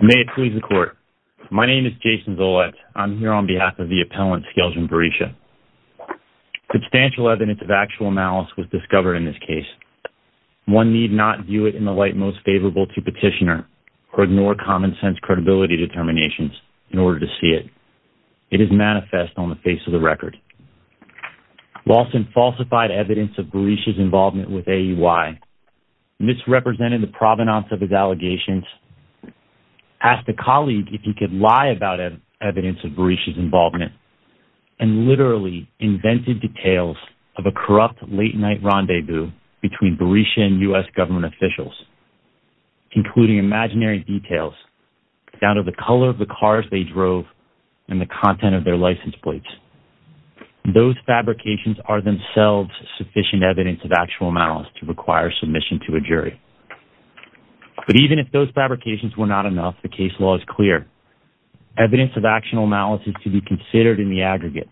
May it please the court. My name is Jason Zolot. I'm here on behalf of the appellant Skelgen Berisha. Substantial evidence of actual malice was discovered in this case. One need not view it in the light most favorable to petitioner or ignore common-sense credibility determinations in order to see it. It is manifest on the face of the record. Lawson falsified evidence of Berisha's involvement with AEY, misrepresented the provenance of his allegations, asked the colleague if he could lie about evidence of Berisha's involvement, and literally invented details of a corrupt late-night rendezvous between Berisha and U.S. government officials, including imaginary details down to the color of the cars they drove and the content of their license plates. Those fabrications are themselves sufficient evidence of actual malice to require submission to a clear evidence of actual malice is to be considered in the aggregate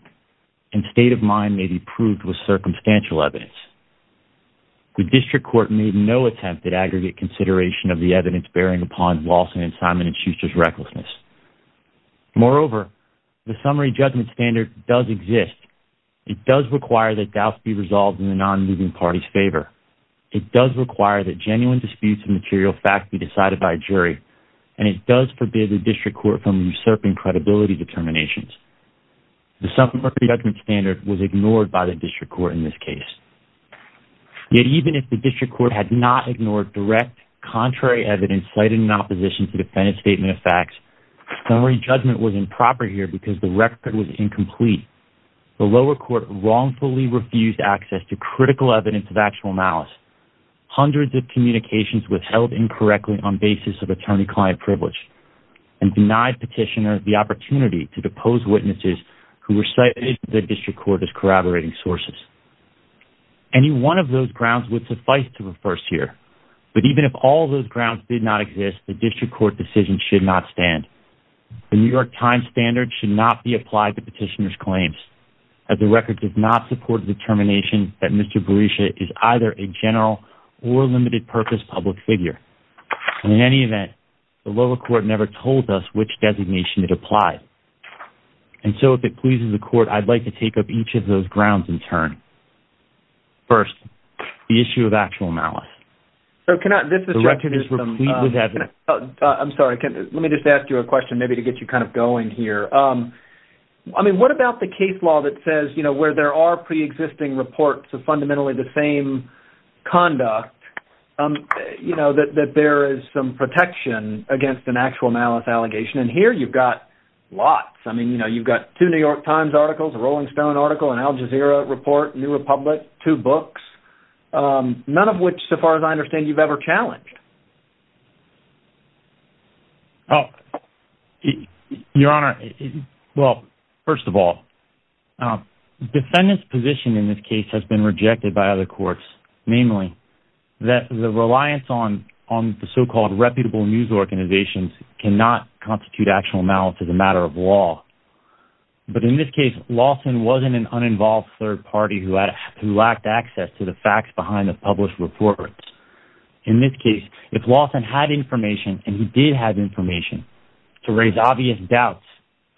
and state of mind may be proved with circumstantial evidence. The district court made no attempt at aggregate consideration of the evidence bearing upon Lawson and Simon and Schuster's recklessness. Moreover, the summary judgment standard does exist. It does require that doubts be resolved in the non-moving party's favor. It does require that genuine disputes and material facts be decided by jury, and it does forbid the district court from usurping credibility determinations. The summary judgment standard was ignored by the district court in this case. Yet even if the district court had not ignored direct contrary evidence cited in opposition to defendant's statement of facts, summary judgment was improper here because the record was incomplete. The lower court wrongfully refused access to critical evidence of actual malice. Hundreds of attorney-client privilege and denied petitioner the opportunity to depose witnesses who were cited the district court as corroborating sources. Any one of those grounds would suffice to reverse here, but even if all those grounds did not exist, the district court decision should not stand. The New York Times standard should not be applied to petitioner's claims as the record does not support the determination that Mr. Berisha is either a general or limited purpose public figure. In any event, the lower court never told us which designation it applies, and so if it pleases the court, I'd like to take up each of those grounds in turn. First, the issue of actual malice. I'm sorry, let me just ask you a question maybe to get you kind of going here. I mean, what about the case law that says, you know, where there are existing reports of fundamentally the same conduct, you know, that there is some protection against an actual malice allegation, and here you've got lots. I mean, you know, you've got two New York Times articles, a Rolling Stone article, an Al Jazeera report, New Republic, two books, none of which, so far as I understand, you've ever challenged. Oh, Your Honor, well, first of all, defendants position in this case has been rejected by other courts, namely that the reliance on the so-called reputable news organizations cannot constitute actual malice as a matter of law, but in this case, Lawson wasn't an uninvolved third party who lacked access to the facts behind the published reports. In this case, if Lawson had information, and he did have information to raise obvious doubts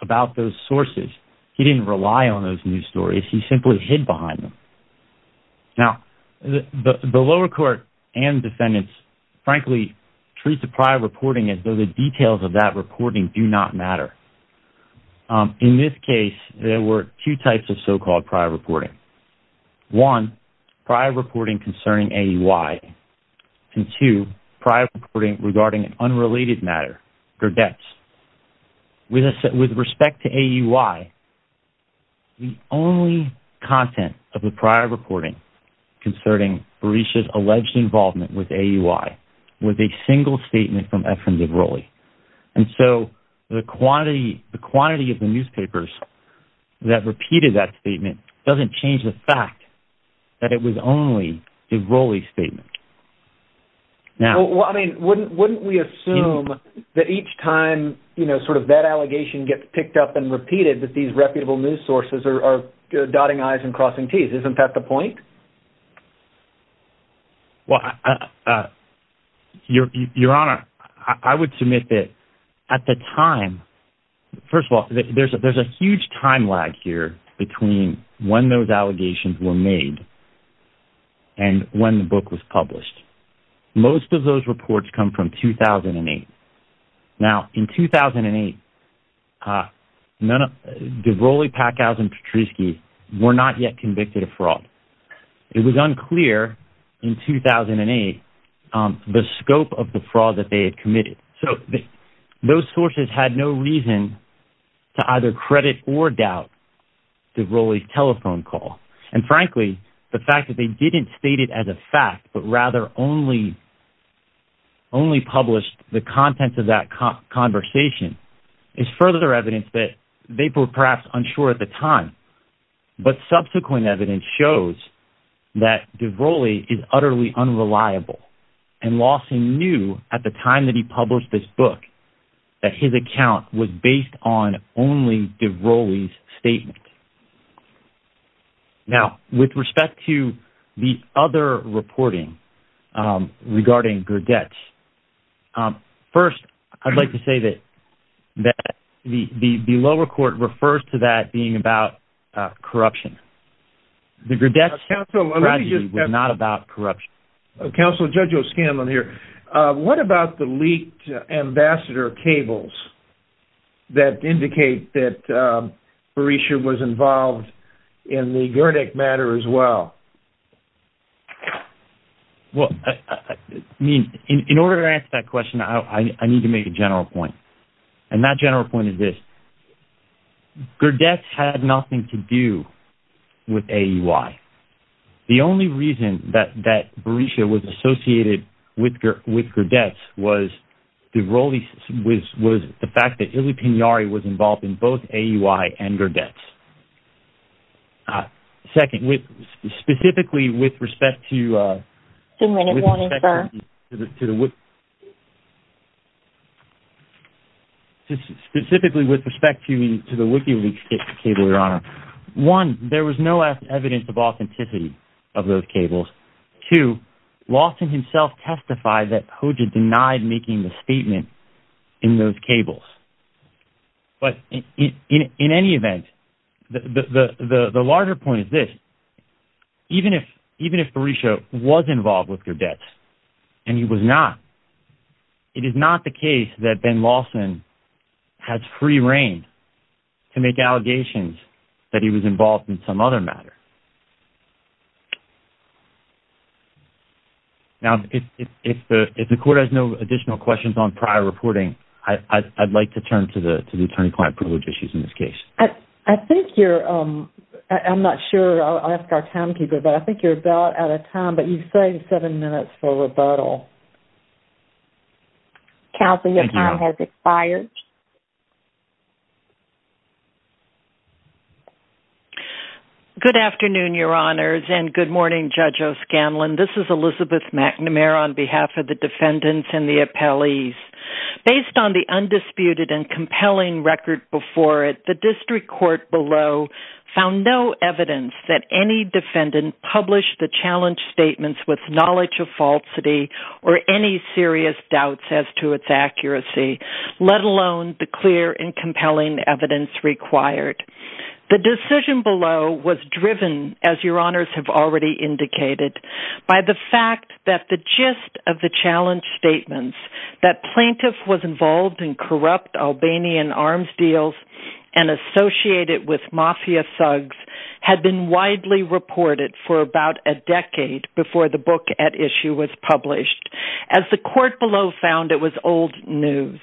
about those sources, he didn't rely on those news stories. He simply hid behind them. Now, the lower court and defendants, frankly, treat the prior reporting as though the details of that reporting do not matter. In this case, there were two types of so-called prior reporting. One, prior reporting concerning AUI, and two, prior reporting regarding an unrelated matter, Gerdetsch. With respect to AUI, the only content of the prior reporting concerning Berisha's alleged involvement with AUI was a single statement from Efrem Dibrolli, and so the quantity of the newspapers that repeated that statement was a single statement. Now, wouldn't we assume that each time, you know, sort of that allegation gets picked up and repeated, that these reputable news sources are dotting I's and crossing T's? Isn't that the point? Well, Your Honor, I would submit that at the time, first of all, there's a huge time lag here between when those allegations were made and when the book was published. Most of those reports come from 2008. Now, in 2008, Dibrolli, Packhouse, and Petrischi were not yet convicted of fraud. It was unclear in 2008 the scope of the fraud that they had committed. So, those sources had no reason to either credit or doubt Dibrolli's telephone call, and frankly, the fact that they didn't state it as a fact, but rather only published the contents of that conversation is further evidence that they were perhaps unsure at the time, but subsequent evidence shows that Dibrolli is utterly unreliable, and Lawson knew at the time that he published this book that his account was based on only Dibrolli's statement. Now, with respect to the other reporting regarding Gerdetsch, first, I'd like to say that the lower court refers to that being about corruption. The Gerdetsch tragedy was not about corruption. Counsel Judge O'Scanlan here, what about the leaked ambassador cables that indicate that Berisha was involved in the Gerdech matter as well? Well, I mean, in order to answer that question, I need to make a general point, and that general point is this. Gerdetsch had nothing to do with AUI. The only reason that Berisha was associated with Gerdetsch was the fact that Ili Pinari was involved in both AUI and Gerdetsch. Second, specifically with respect to the WikiLeaks cable, Your Honor, one, there was no evidence of authenticity of those cables. Two, Lawson himself testified that Hoja denied making the statement in those cables, but in any event, the even if Berisha was involved with Gerdetsch, and he was not, it is not the case that Ben Lawson has free reign to make allegations that he was involved in some other matter. Now, if the court has no additional questions on prior reporting, I'd like to turn to the attorney client privilege issues in this case. I think you're, I'm not sure, I'll ask our townkeeper, but I think you're about out of time, but you saved seven minutes for rebuttal. Counsel, your time has expired. Good afternoon, Your Honors, and good morning, Judge O'Scanlan. This is Elizabeth McNamara on behalf of the defendants and the appellees. Based on the undisputed and compelling record before it, the district court below found no evidence that any defendant published the challenge statements with knowledge of falsity or any serious doubts as to its accuracy, let alone the clear and compelling evidence required. The decision below was driven, as Your Honors have already indicated, by the fact that the gist of the challenge statements, that plaintiff was involved in corrupt Albanian arms deals and associated with mafia thugs, had been widely reported for about a decade before the book at issue was published. As the court below found, it was old news.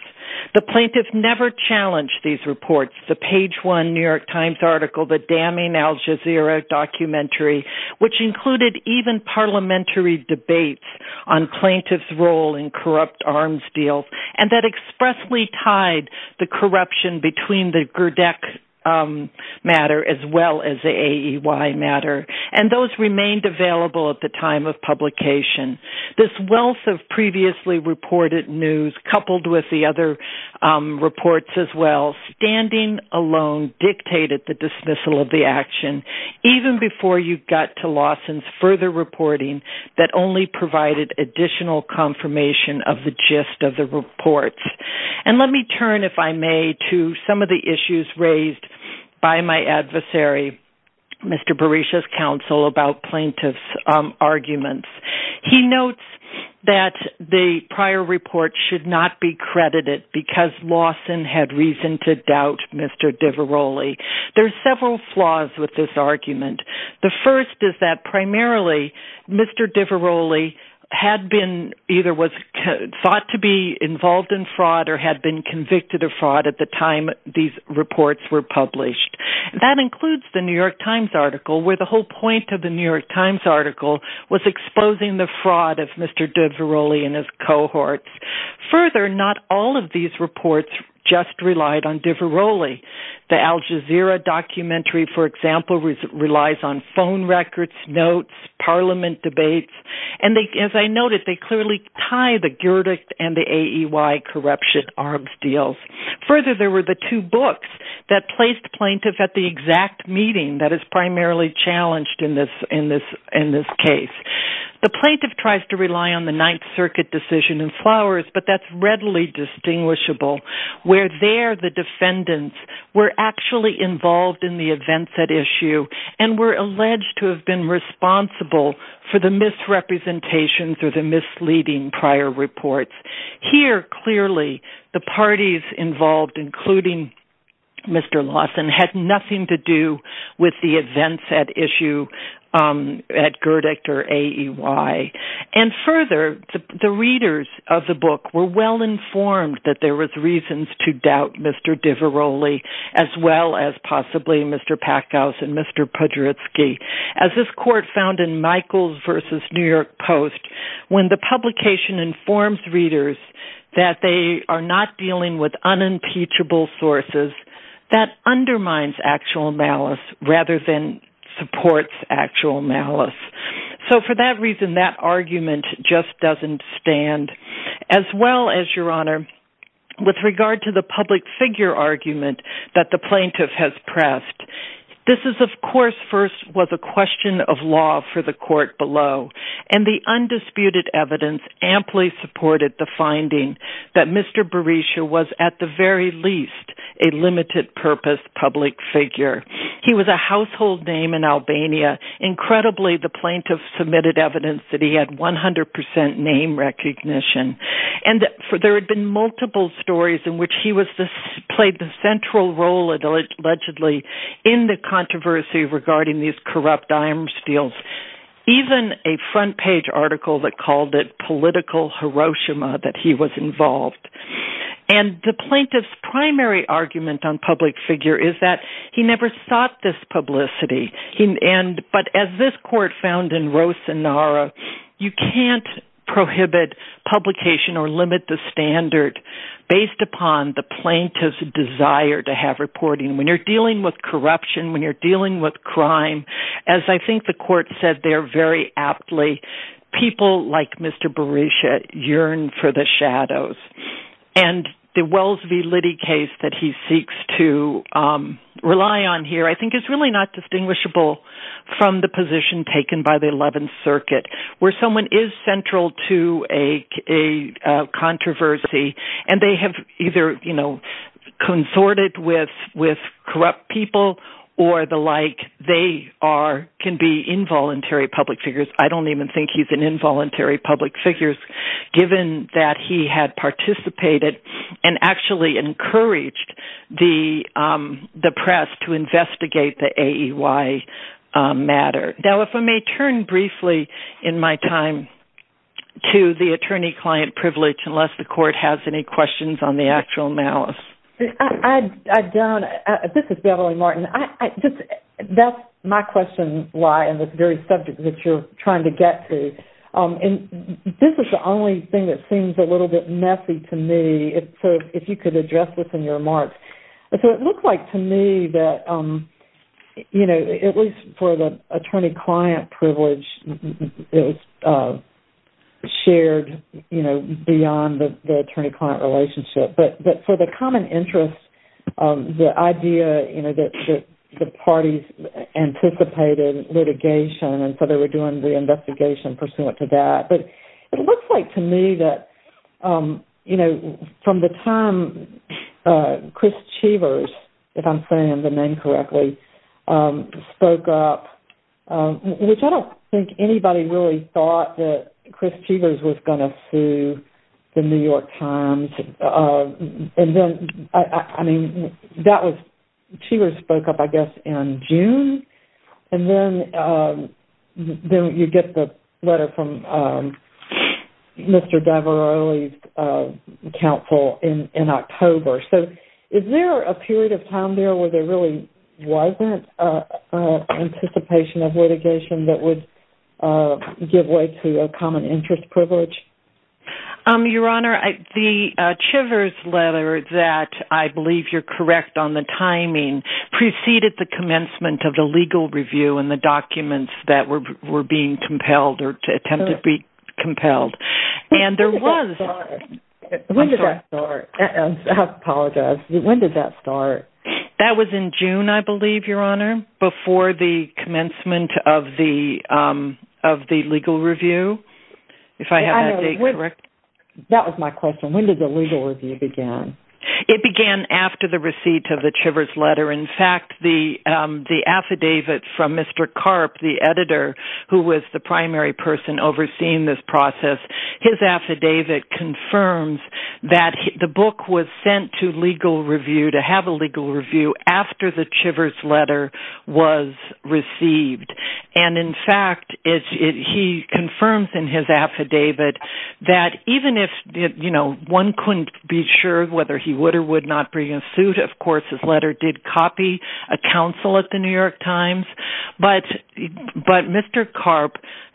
The plaintiff never challenged these reports, the page one New York Times article, the damning Al Jazeera documentary, which included even parliamentary debates on plaintiff's role in corrupt arms deals, and that matter as well as the AEY matter, and those remained available at the time of publication. This wealth of previously reported news, coupled with the other reports as well, standing alone dictated the dismissal of the action, even before you got to Lawson's further reporting that only provided additional confirmation of the gist of the reports. And let me turn, if I may, to some of the arguments raised by my adversary, Mr. Berisha's counsel, about plaintiff's arguments. He notes that the prior report should not be credited because Lawson had reason to doubt Mr. DiVaroli. There's several flaws with this argument. The first is that primarily Mr. DiVaroli had been either was thought to be involved in fraud or had been convicted of fraud at the time these reports were published. That includes the New York Times article, where the whole point of the New York Times article was exposing the fraud of Mr. DiVaroli and his cohorts. Further, not all of these reports just relied on DiVaroli. The Al Jazeera documentary, for example, relies on phone records, notes, parliament debates, and as I mentioned earlier, the Al Jazeera documentary does not actually tie the Gurdjieff and the AEY corruption arms deals. Further, there were the two books that placed plaintiff at the exact meeting that is primarily challenged in this case. The plaintiff tries to rely on the Ninth Circuit decision in Flowers, but that's readily distinguishable, where there the defendants were actually involved in the events at issue and were alleged to have been responsible for the misrepresentations or the misleading statements. Here, clearly, the parties involved, including Mr. Lawson, had nothing to do with the events at issue at Gurdjieff or AEY. And further, the readers of the book were well informed that there was reasons to doubt Mr. DiVaroli, as well as possibly Mr. Packhouse and Mr. Podritsky. As this court found in Michaels v. New York Post, when the publication informs readers that they are not dealing with unimpeachable sources, that undermines actual malice rather than supports actual malice. So for that reason, that argument just doesn't stand. As well as, Your Honor, with regard to the public figure argument that the plaintiff has pressed, this is of course first was a question of law for the court below. And the undisputed evidence amply supported the finding that Mr. Berisha was at the very least a limited purpose public figure. He was a household name in Albania. Incredibly, the plaintiff submitted evidence that he had 100% name recognition. And there had been multiple stories in which he played the central role, allegedly, in the controversy regarding these corrupt iron steels. Even a front page article that called it political Hiroshima, that he was involved. And the plaintiff's primary argument on public figure is that he never sought this publicity. But as this court found in Rosanara, you can't prohibit publication or limit the standard based upon the plaintiff's desire to have reporting. When you're dealing with corruption, when you're dealing with crime, as I think the court said there very aptly, people like Mr. Berisha yearn for the shadows. And the Wells v. Liddy case that he seeks to rely on here I think is really not distinguishable from the position taken by the 11th Circuit where someone is central to a controversy and they have either consorted with corrupt people or the like. They can be involuntary public figures. I don't even think he's an involuntary public figure given that he had participated and actually encouraged the press to investigate the AEY matter. Now if I may turn briefly in my time to the attorney-client privilege unless the court has any questions on the actual malice. I don't. This is Beverly Martin. That's my question why in this very subject that you're trying to get to. This is the only thing that seems a little bit messy to me. If you could address this in your remarks. It looked like to me that at least for the attorney-client privilege, it was shared beyond the attorney-client relationship. But for the common interest, the idea that the parties anticipated litigation and so they were doing the investigation pursuant to that. But it looks like to me that from the time Chris Chevers, if I'm saying the name correctly, spoke up, which I don't think anybody really thought that Chris Chevers was going to sue the New York Times. And then, I mean, that was, Chevers spoke up I guess in June and then you get the letter from Mr. DiVaroli's counsel in October. So is there a period of time there where there really wasn't anticipation of litigation that would give way to a common interest privilege? Your Honor, the Chevers letter that I believe you're correct on the timing preceded the commencement of the legal review and the documents that were being compelled or attempted to be compelled. When did that start? I apologize. When did that start? That was in June I believe, Your Honor, before the commencement of the legal review. That was my question. When did the legal review begin? It began after the receipt of the Chevers letter. In fact, the affidavit from Mr. Karp, the editor who was the primary person overseeing this process, his affidavit confirms that the book was sent to have a legal review after the Chevers letter was received. And in fact, he confirms in his affidavit that even if one couldn't be sure whether he would or would not bring a suit, of course his letter did copy a counsel at the New York Times, but Mr. Karp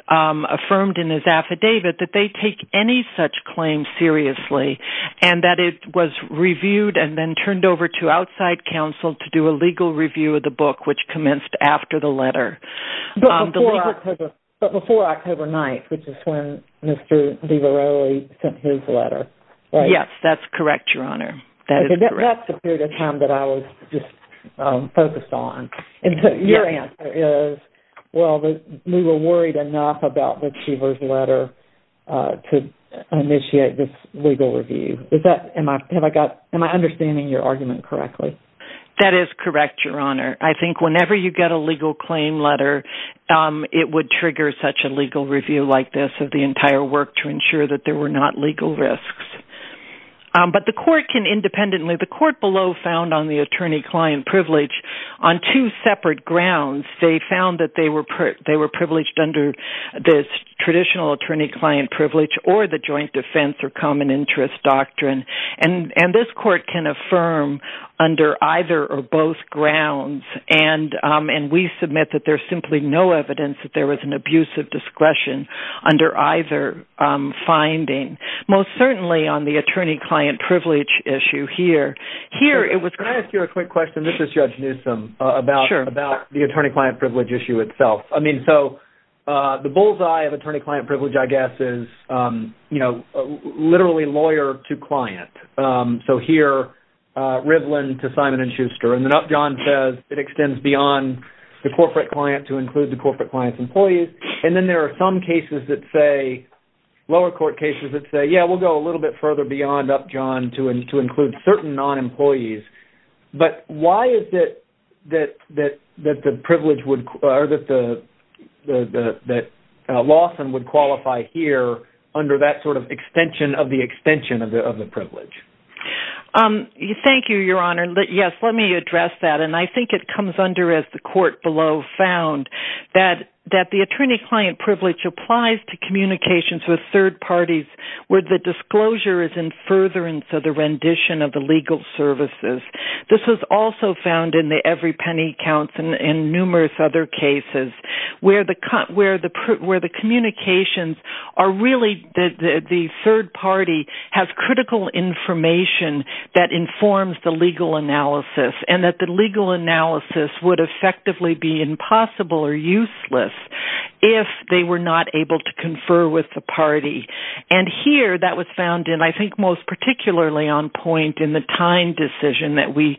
affirmed in his affidavit that they take any such claim seriously and that it was reviewed and then turned over to outside counsel to do a legal review of the book, which commenced after the letter. But before October 9th, which is when Mr. Leveroli sent his letter, right? Yes, that's correct, Your Honor. That is correct. Your answer is, well, we were worried enough about the Chevers letter to initiate this legal review. Am I understanding your argument correctly? That is correct, Your Honor. I think whenever you get a legal claim letter, it would trigger such a legal review like this of the entire work to ensure that there were not legal risks. But the court can independently, the court below found on the attorney-client privilege on two separate grounds. They found that they were privileged under the traditional attorney-client privilege or the joint defense or common interest doctrine. And this court can affirm under either or both grounds. And we submit that there's simply no evidence that there was an abuse of discretion under either finding. Most certainly on the attorney-client privilege issue here. Can I ask you a quick question? This is Judge Newsom about the attorney-client privilege issue itself. I mean, so the bullseye of attorney-client privilege, I guess, is literally lawyer to client. So here, Rivlin to Simon & Schuster. And then up John says it extends beyond the corporate client to include the corporate client's employees. And then there are some cases that say, lower court cases that say, yeah, we'll go a little bit further beyond up John to include certain non-employees. But why is it that Lawson would qualify here under that sort of extension of the extension of the privilege? Thank you, Your Honor. Yes, let me address that. And I think it comes under as the court below found that the attorney-client privilege applies to communications with third parties where the disclosure is in furtherance of the rendition of the legal services. This was also found in the every penny counts and numerous other cases where the communications are really the third party has critical information that informs the legal analysis. And that the legal analysis would effectively be impossible or useless if they were not able to confer with the party. And here, that was found in I think most particularly on point in the time decision that we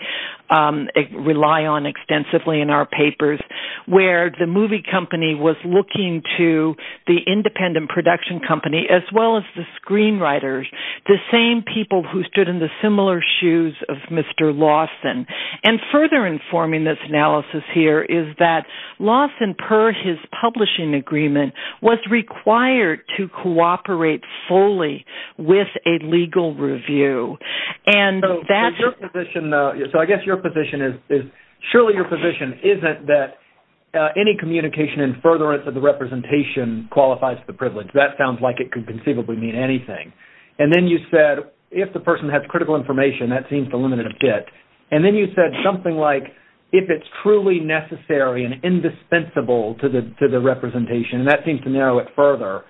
rely on extensively in our papers where the movie company was looking to the independent production company as well as the screenwriters, the same people who stood in the similar shoes of Mr. Lawson. And further informing this analysis here is that Lawson per his publishing agreement was required to cooperate fully with a legal review. And that's... So I guess your position is surely your position isn't that any communication in furtherance of the representation qualifies the privilege. That sounds like it could conceivably mean anything. And then you said if the person has critical information that seems to limit it a bit. And then you said something like if it's truly necessary and indispensable to the representation. And that seems to narrow it further.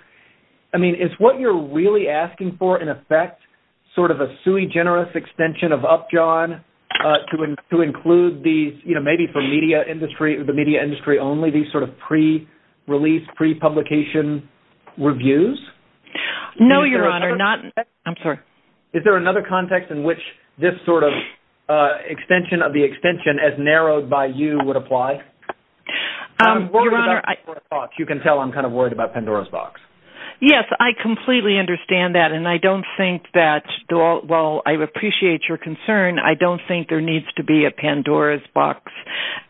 I mean is what you're really asking for in effect sort of a sui generis extension of Upjohn to include these, you know, maybe for media industry, the media industry only these sort of pre-release, pre-publication reviews? No, Your Honor. Not... I'm sorry. Is there another context in which this sort of extension of the extension as narrowed by you would apply? Your Honor... I'm worried about Pandora's box. You can tell I'm kind of worried about Pandora's box. Yes, I completely understand that. And I don't think that... Well, I appreciate your concern. I don't think there needs to be a Pandora's box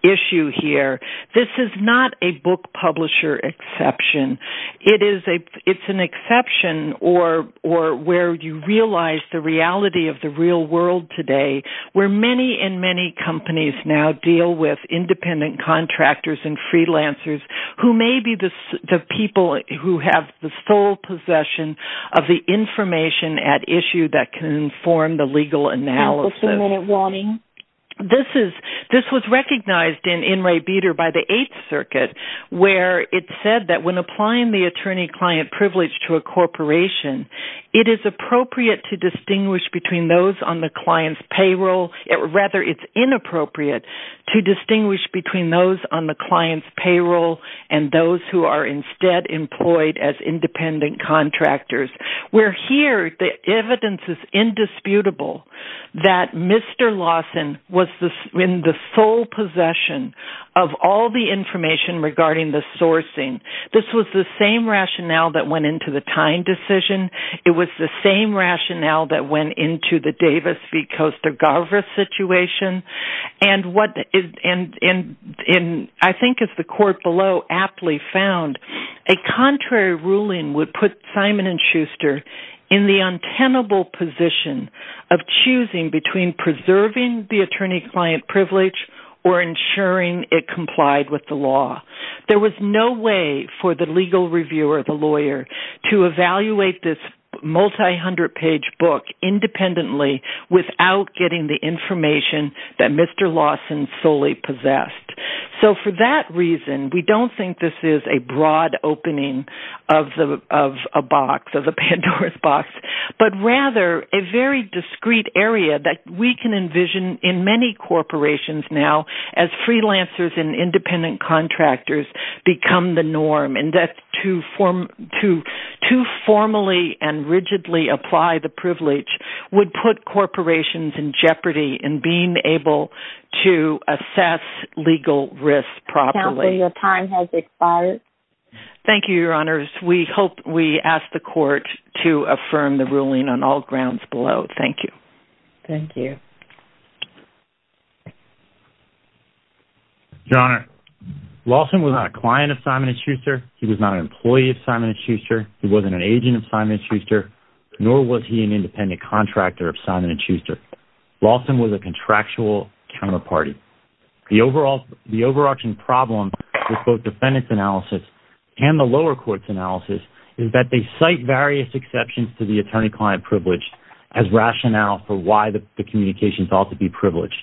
issue here. This is not a book publisher exception. It's an exception or where you realize the reality of the real world today where many and many companies now deal with independent contractors and freelancers who may be the people who have the sole possession of the information at issue that can form the legal analysis. Just a minute warning. This is... This was recognized in In Re Beter by the Eighth Circuit where it said that when applying the attorney-client privilege to a corporation, it is appropriate to distinguish between those on the client's payroll. Rather, it's inappropriate to distinguish between those on the client's payroll and those who are instead employed as independent contractors. Where here, the evidence is indisputable that Mr. Lawson was in the sole possession of all the information regarding the sourcing. This was the same rationale that went into the Tyne decision. It was the same rationale that went into the Davis v. Coaster-Garver situation. And what... And I think as the court below aptly found, a contrary ruling would put Simon & Schuster in the untenable position of choosing between preserving the attorney-client privilege or ensuring it complied with the law. There was no way for the legal reviewer, the lawyer, to evaluate this multi-hundred page book independently without getting the information that Mr. Lawson solely possessed. So for that reason, we don't think this is a broad opening of a box, of a Pandora's box, but rather a very discrete area that we can envision in many corporations now as freelancers and independent contractors become the norm. And that to formally and rigidly apply the privilege would put corporations in jeopardy in being able to assess legal risk properly. Counsel, your time has expired. Thank you, Your Honors. We hope we ask the court to affirm the ruling on all grounds below. Thank you. Thank you. Your Honor, Lawson was not a client of Simon & Schuster, he was not an employee of Simon & Schuster, he wasn't an agent of Simon & Schuster, nor was he an independent contractor of Simon & Schuster. Lawson was a contractual counterparty. The overarching problem with both defendant's analysis and the lower court's analysis is that they cite various exceptions to the attorney-client privilege as rationale for why the communications ought to be privileged,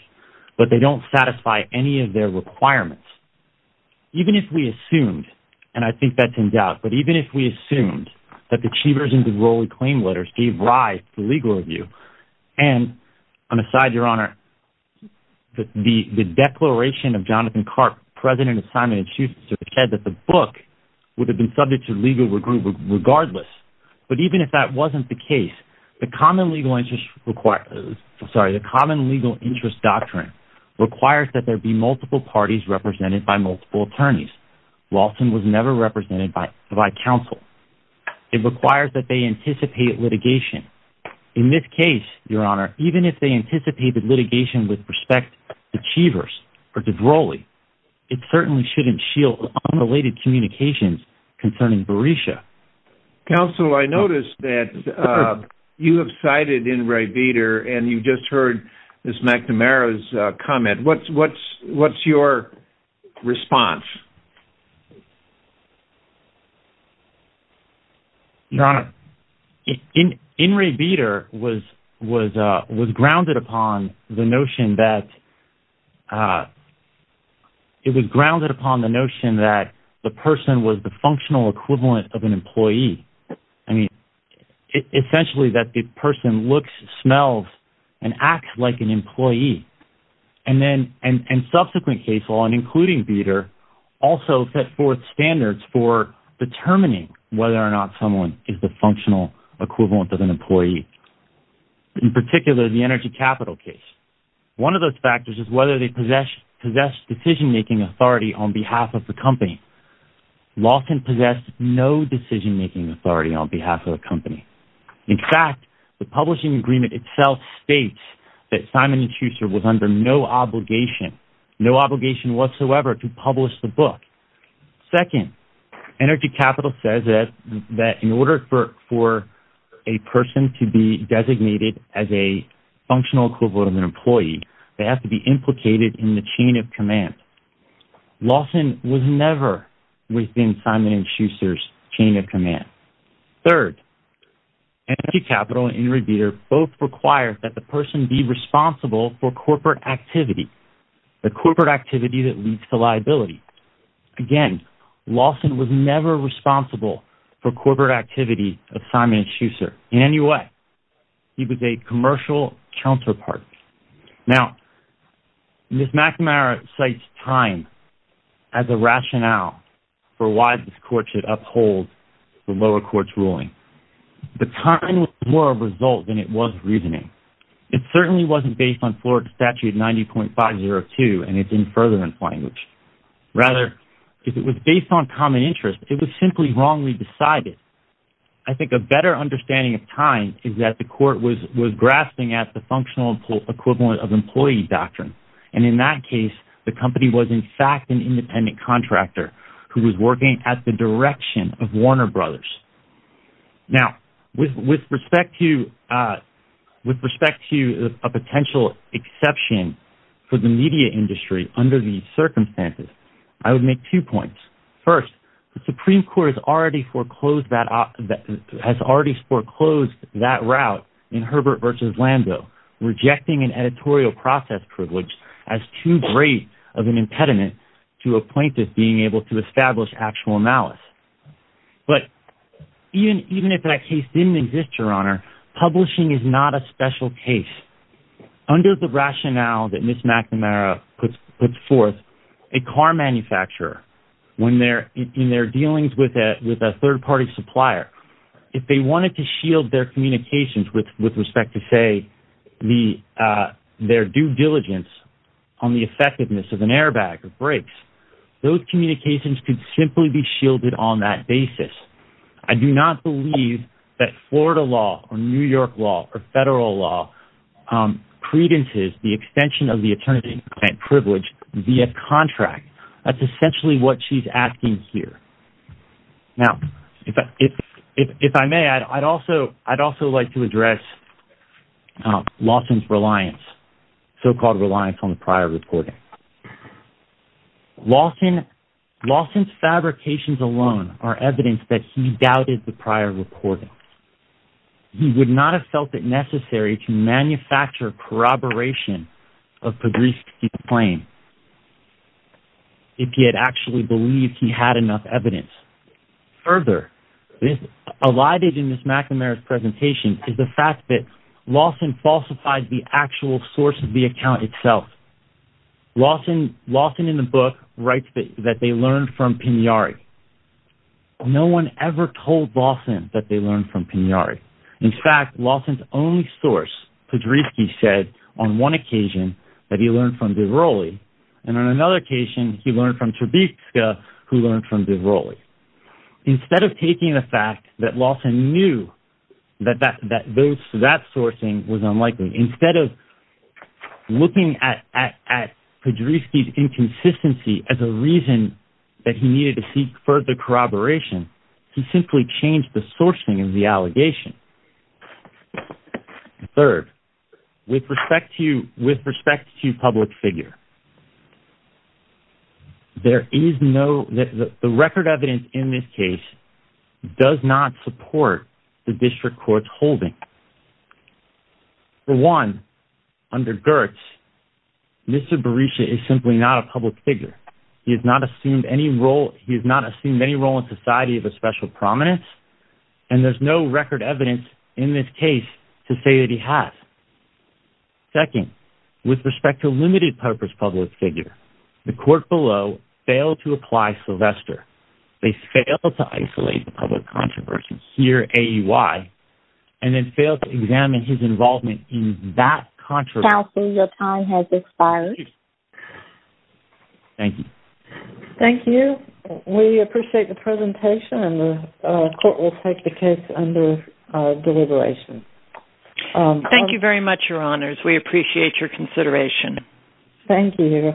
but they don't satisfy any of their requirements. Even if we assumed, and I think that's in doubt, but even if we assumed that the achievers in the Rowley claim letters gave rise to legal review, and on the side, Your Honor, the declaration of Jonathan Karp, president of Simon & Schuster, said that the book would have been subject to legal review regardless. But even if that wasn't the case, the Common Legal Interest Doctrine requires that there be multiple parties represented by multiple attorneys. Lawson was never represented by counsel. It requires that they anticipate litigation. In this case, Your Honor, even if they anticipated litigation with respect to achievers, or to Rowley, it certainly shouldn't shield unrelated communications concerning Berisha. Counsel, I noticed that you have cited In re Beter, and you just heard Ms. McNamara's comment. What's your response? Your Honor, In re Beter was grounded upon the notion that the person was the functional equivalent of an employee. Essentially, that the person looks, smells, and acts like an employee. Subsequent cases, including Beter, also set forth standards for determining whether or not someone is the functional equivalent of an employee. In particular, the Energy Capital case. One of those factors is whether they possess decision-making authority on behalf of the company. Lawson possessed no decision-making authority on behalf of the company. In fact, the publishing agreement itself states that Simon & Schuster was under no obligation, no obligation whatsoever to publish the book. Second, Energy Capital says that in order for a person to be designated as a functional equivalent of an employee, they have to be implicated in the chain of command. Lawson was never within Simon & Schuster's chain of command. Third, Energy Capital and In re Beter both require that the person be responsible for corporate activity. The corporate activity that leads to liability. Again, Lawson was never responsible for corporate activity of Simon & Schuster in any way. He was a commercial counterpart. Now, Ms. McNamara cites time as a rationale for why this court should uphold the lower court's ruling. The time was more of a result than it was reasoning. It certainly wasn't based on Florida Statute 90.502 and it's in furtherance language. Rather, if it was based on common interest, it was simply wrongly decided. I think a better understanding of time is that the court was grasping at the functional equivalent of employee doctrine. And in that case, the company was in fact an independent contractor who was working at the direction of Warner Brothers. Now, with respect to a potential exception for the media industry under these circumstances, I would make two points. First, the Supreme Court has already foreclosed that route in Herbert v. Lando, rejecting an editorial process privilege as too great of an impediment to a plaintiff being able to establish actual malice. But even if that case didn't exist, Your Honor, publishing is not a special case. Under the rationale that Ms. McNamara puts forth, a car manufacturer, in their dealings with a third-party supplier, if they wanted to shield their communications with respect to, say, their due diligence on the effectiveness of an airbag or brakes, those communications could simply be shielded on that basis. I do not believe that Florida law, or New York law, or federal law, credences the extension of the attorney-contract privilege via contract. That's essentially what she's asking here. Now, if I may, I'd also like to address Lawson's so-called reliance on prior reporting. Lawson's fabrications alone are evidence that he doubted the prior reporting. He would not have felt it necessary to manufacture corroboration of Pogreski's claim if he had actually believed he had enough evidence. Further, elided in Ms. McNamara's presentation is the fact that Lawson falsified the actual source of the account itself. Lawson, in the book, writes that they learned from Pignari. No one ever told Lawson that they learned from Pignari. In fact, Lawson's only source, Pogreski, said on one occasion that he learned from DiVrolli, and on another occasion he learned from Trebizka, who learned from DiVrolli. Instead of taking the fact that Lawson knew that that sourcing was unlikely, instead of looking at Pogreski's inconsistency as a reason that he needed to seek further corroboration, he simply changed the sourcing of the allegation. Third, with respect to public figure, the record evidence in this case does not support the district court's holding. For one, under Gertz, Mr. Berisha is simply not a public figure. He has not assumed any role in society of a special prominence, and there's no record evidence in this case to say that he has. Second, with respect to limited purpose public figure, the court below failed to apply Sylvester. They failed to isolate the public controversy here at AUI, and then failed to examine his involvement in that controversy. Counsel, your time has expired. Thank you. Thank you. We appreciate the presentation, and the court will take the case under deliberation. Thank you very much, Your Honors. We appreciate your consideration. Thank you.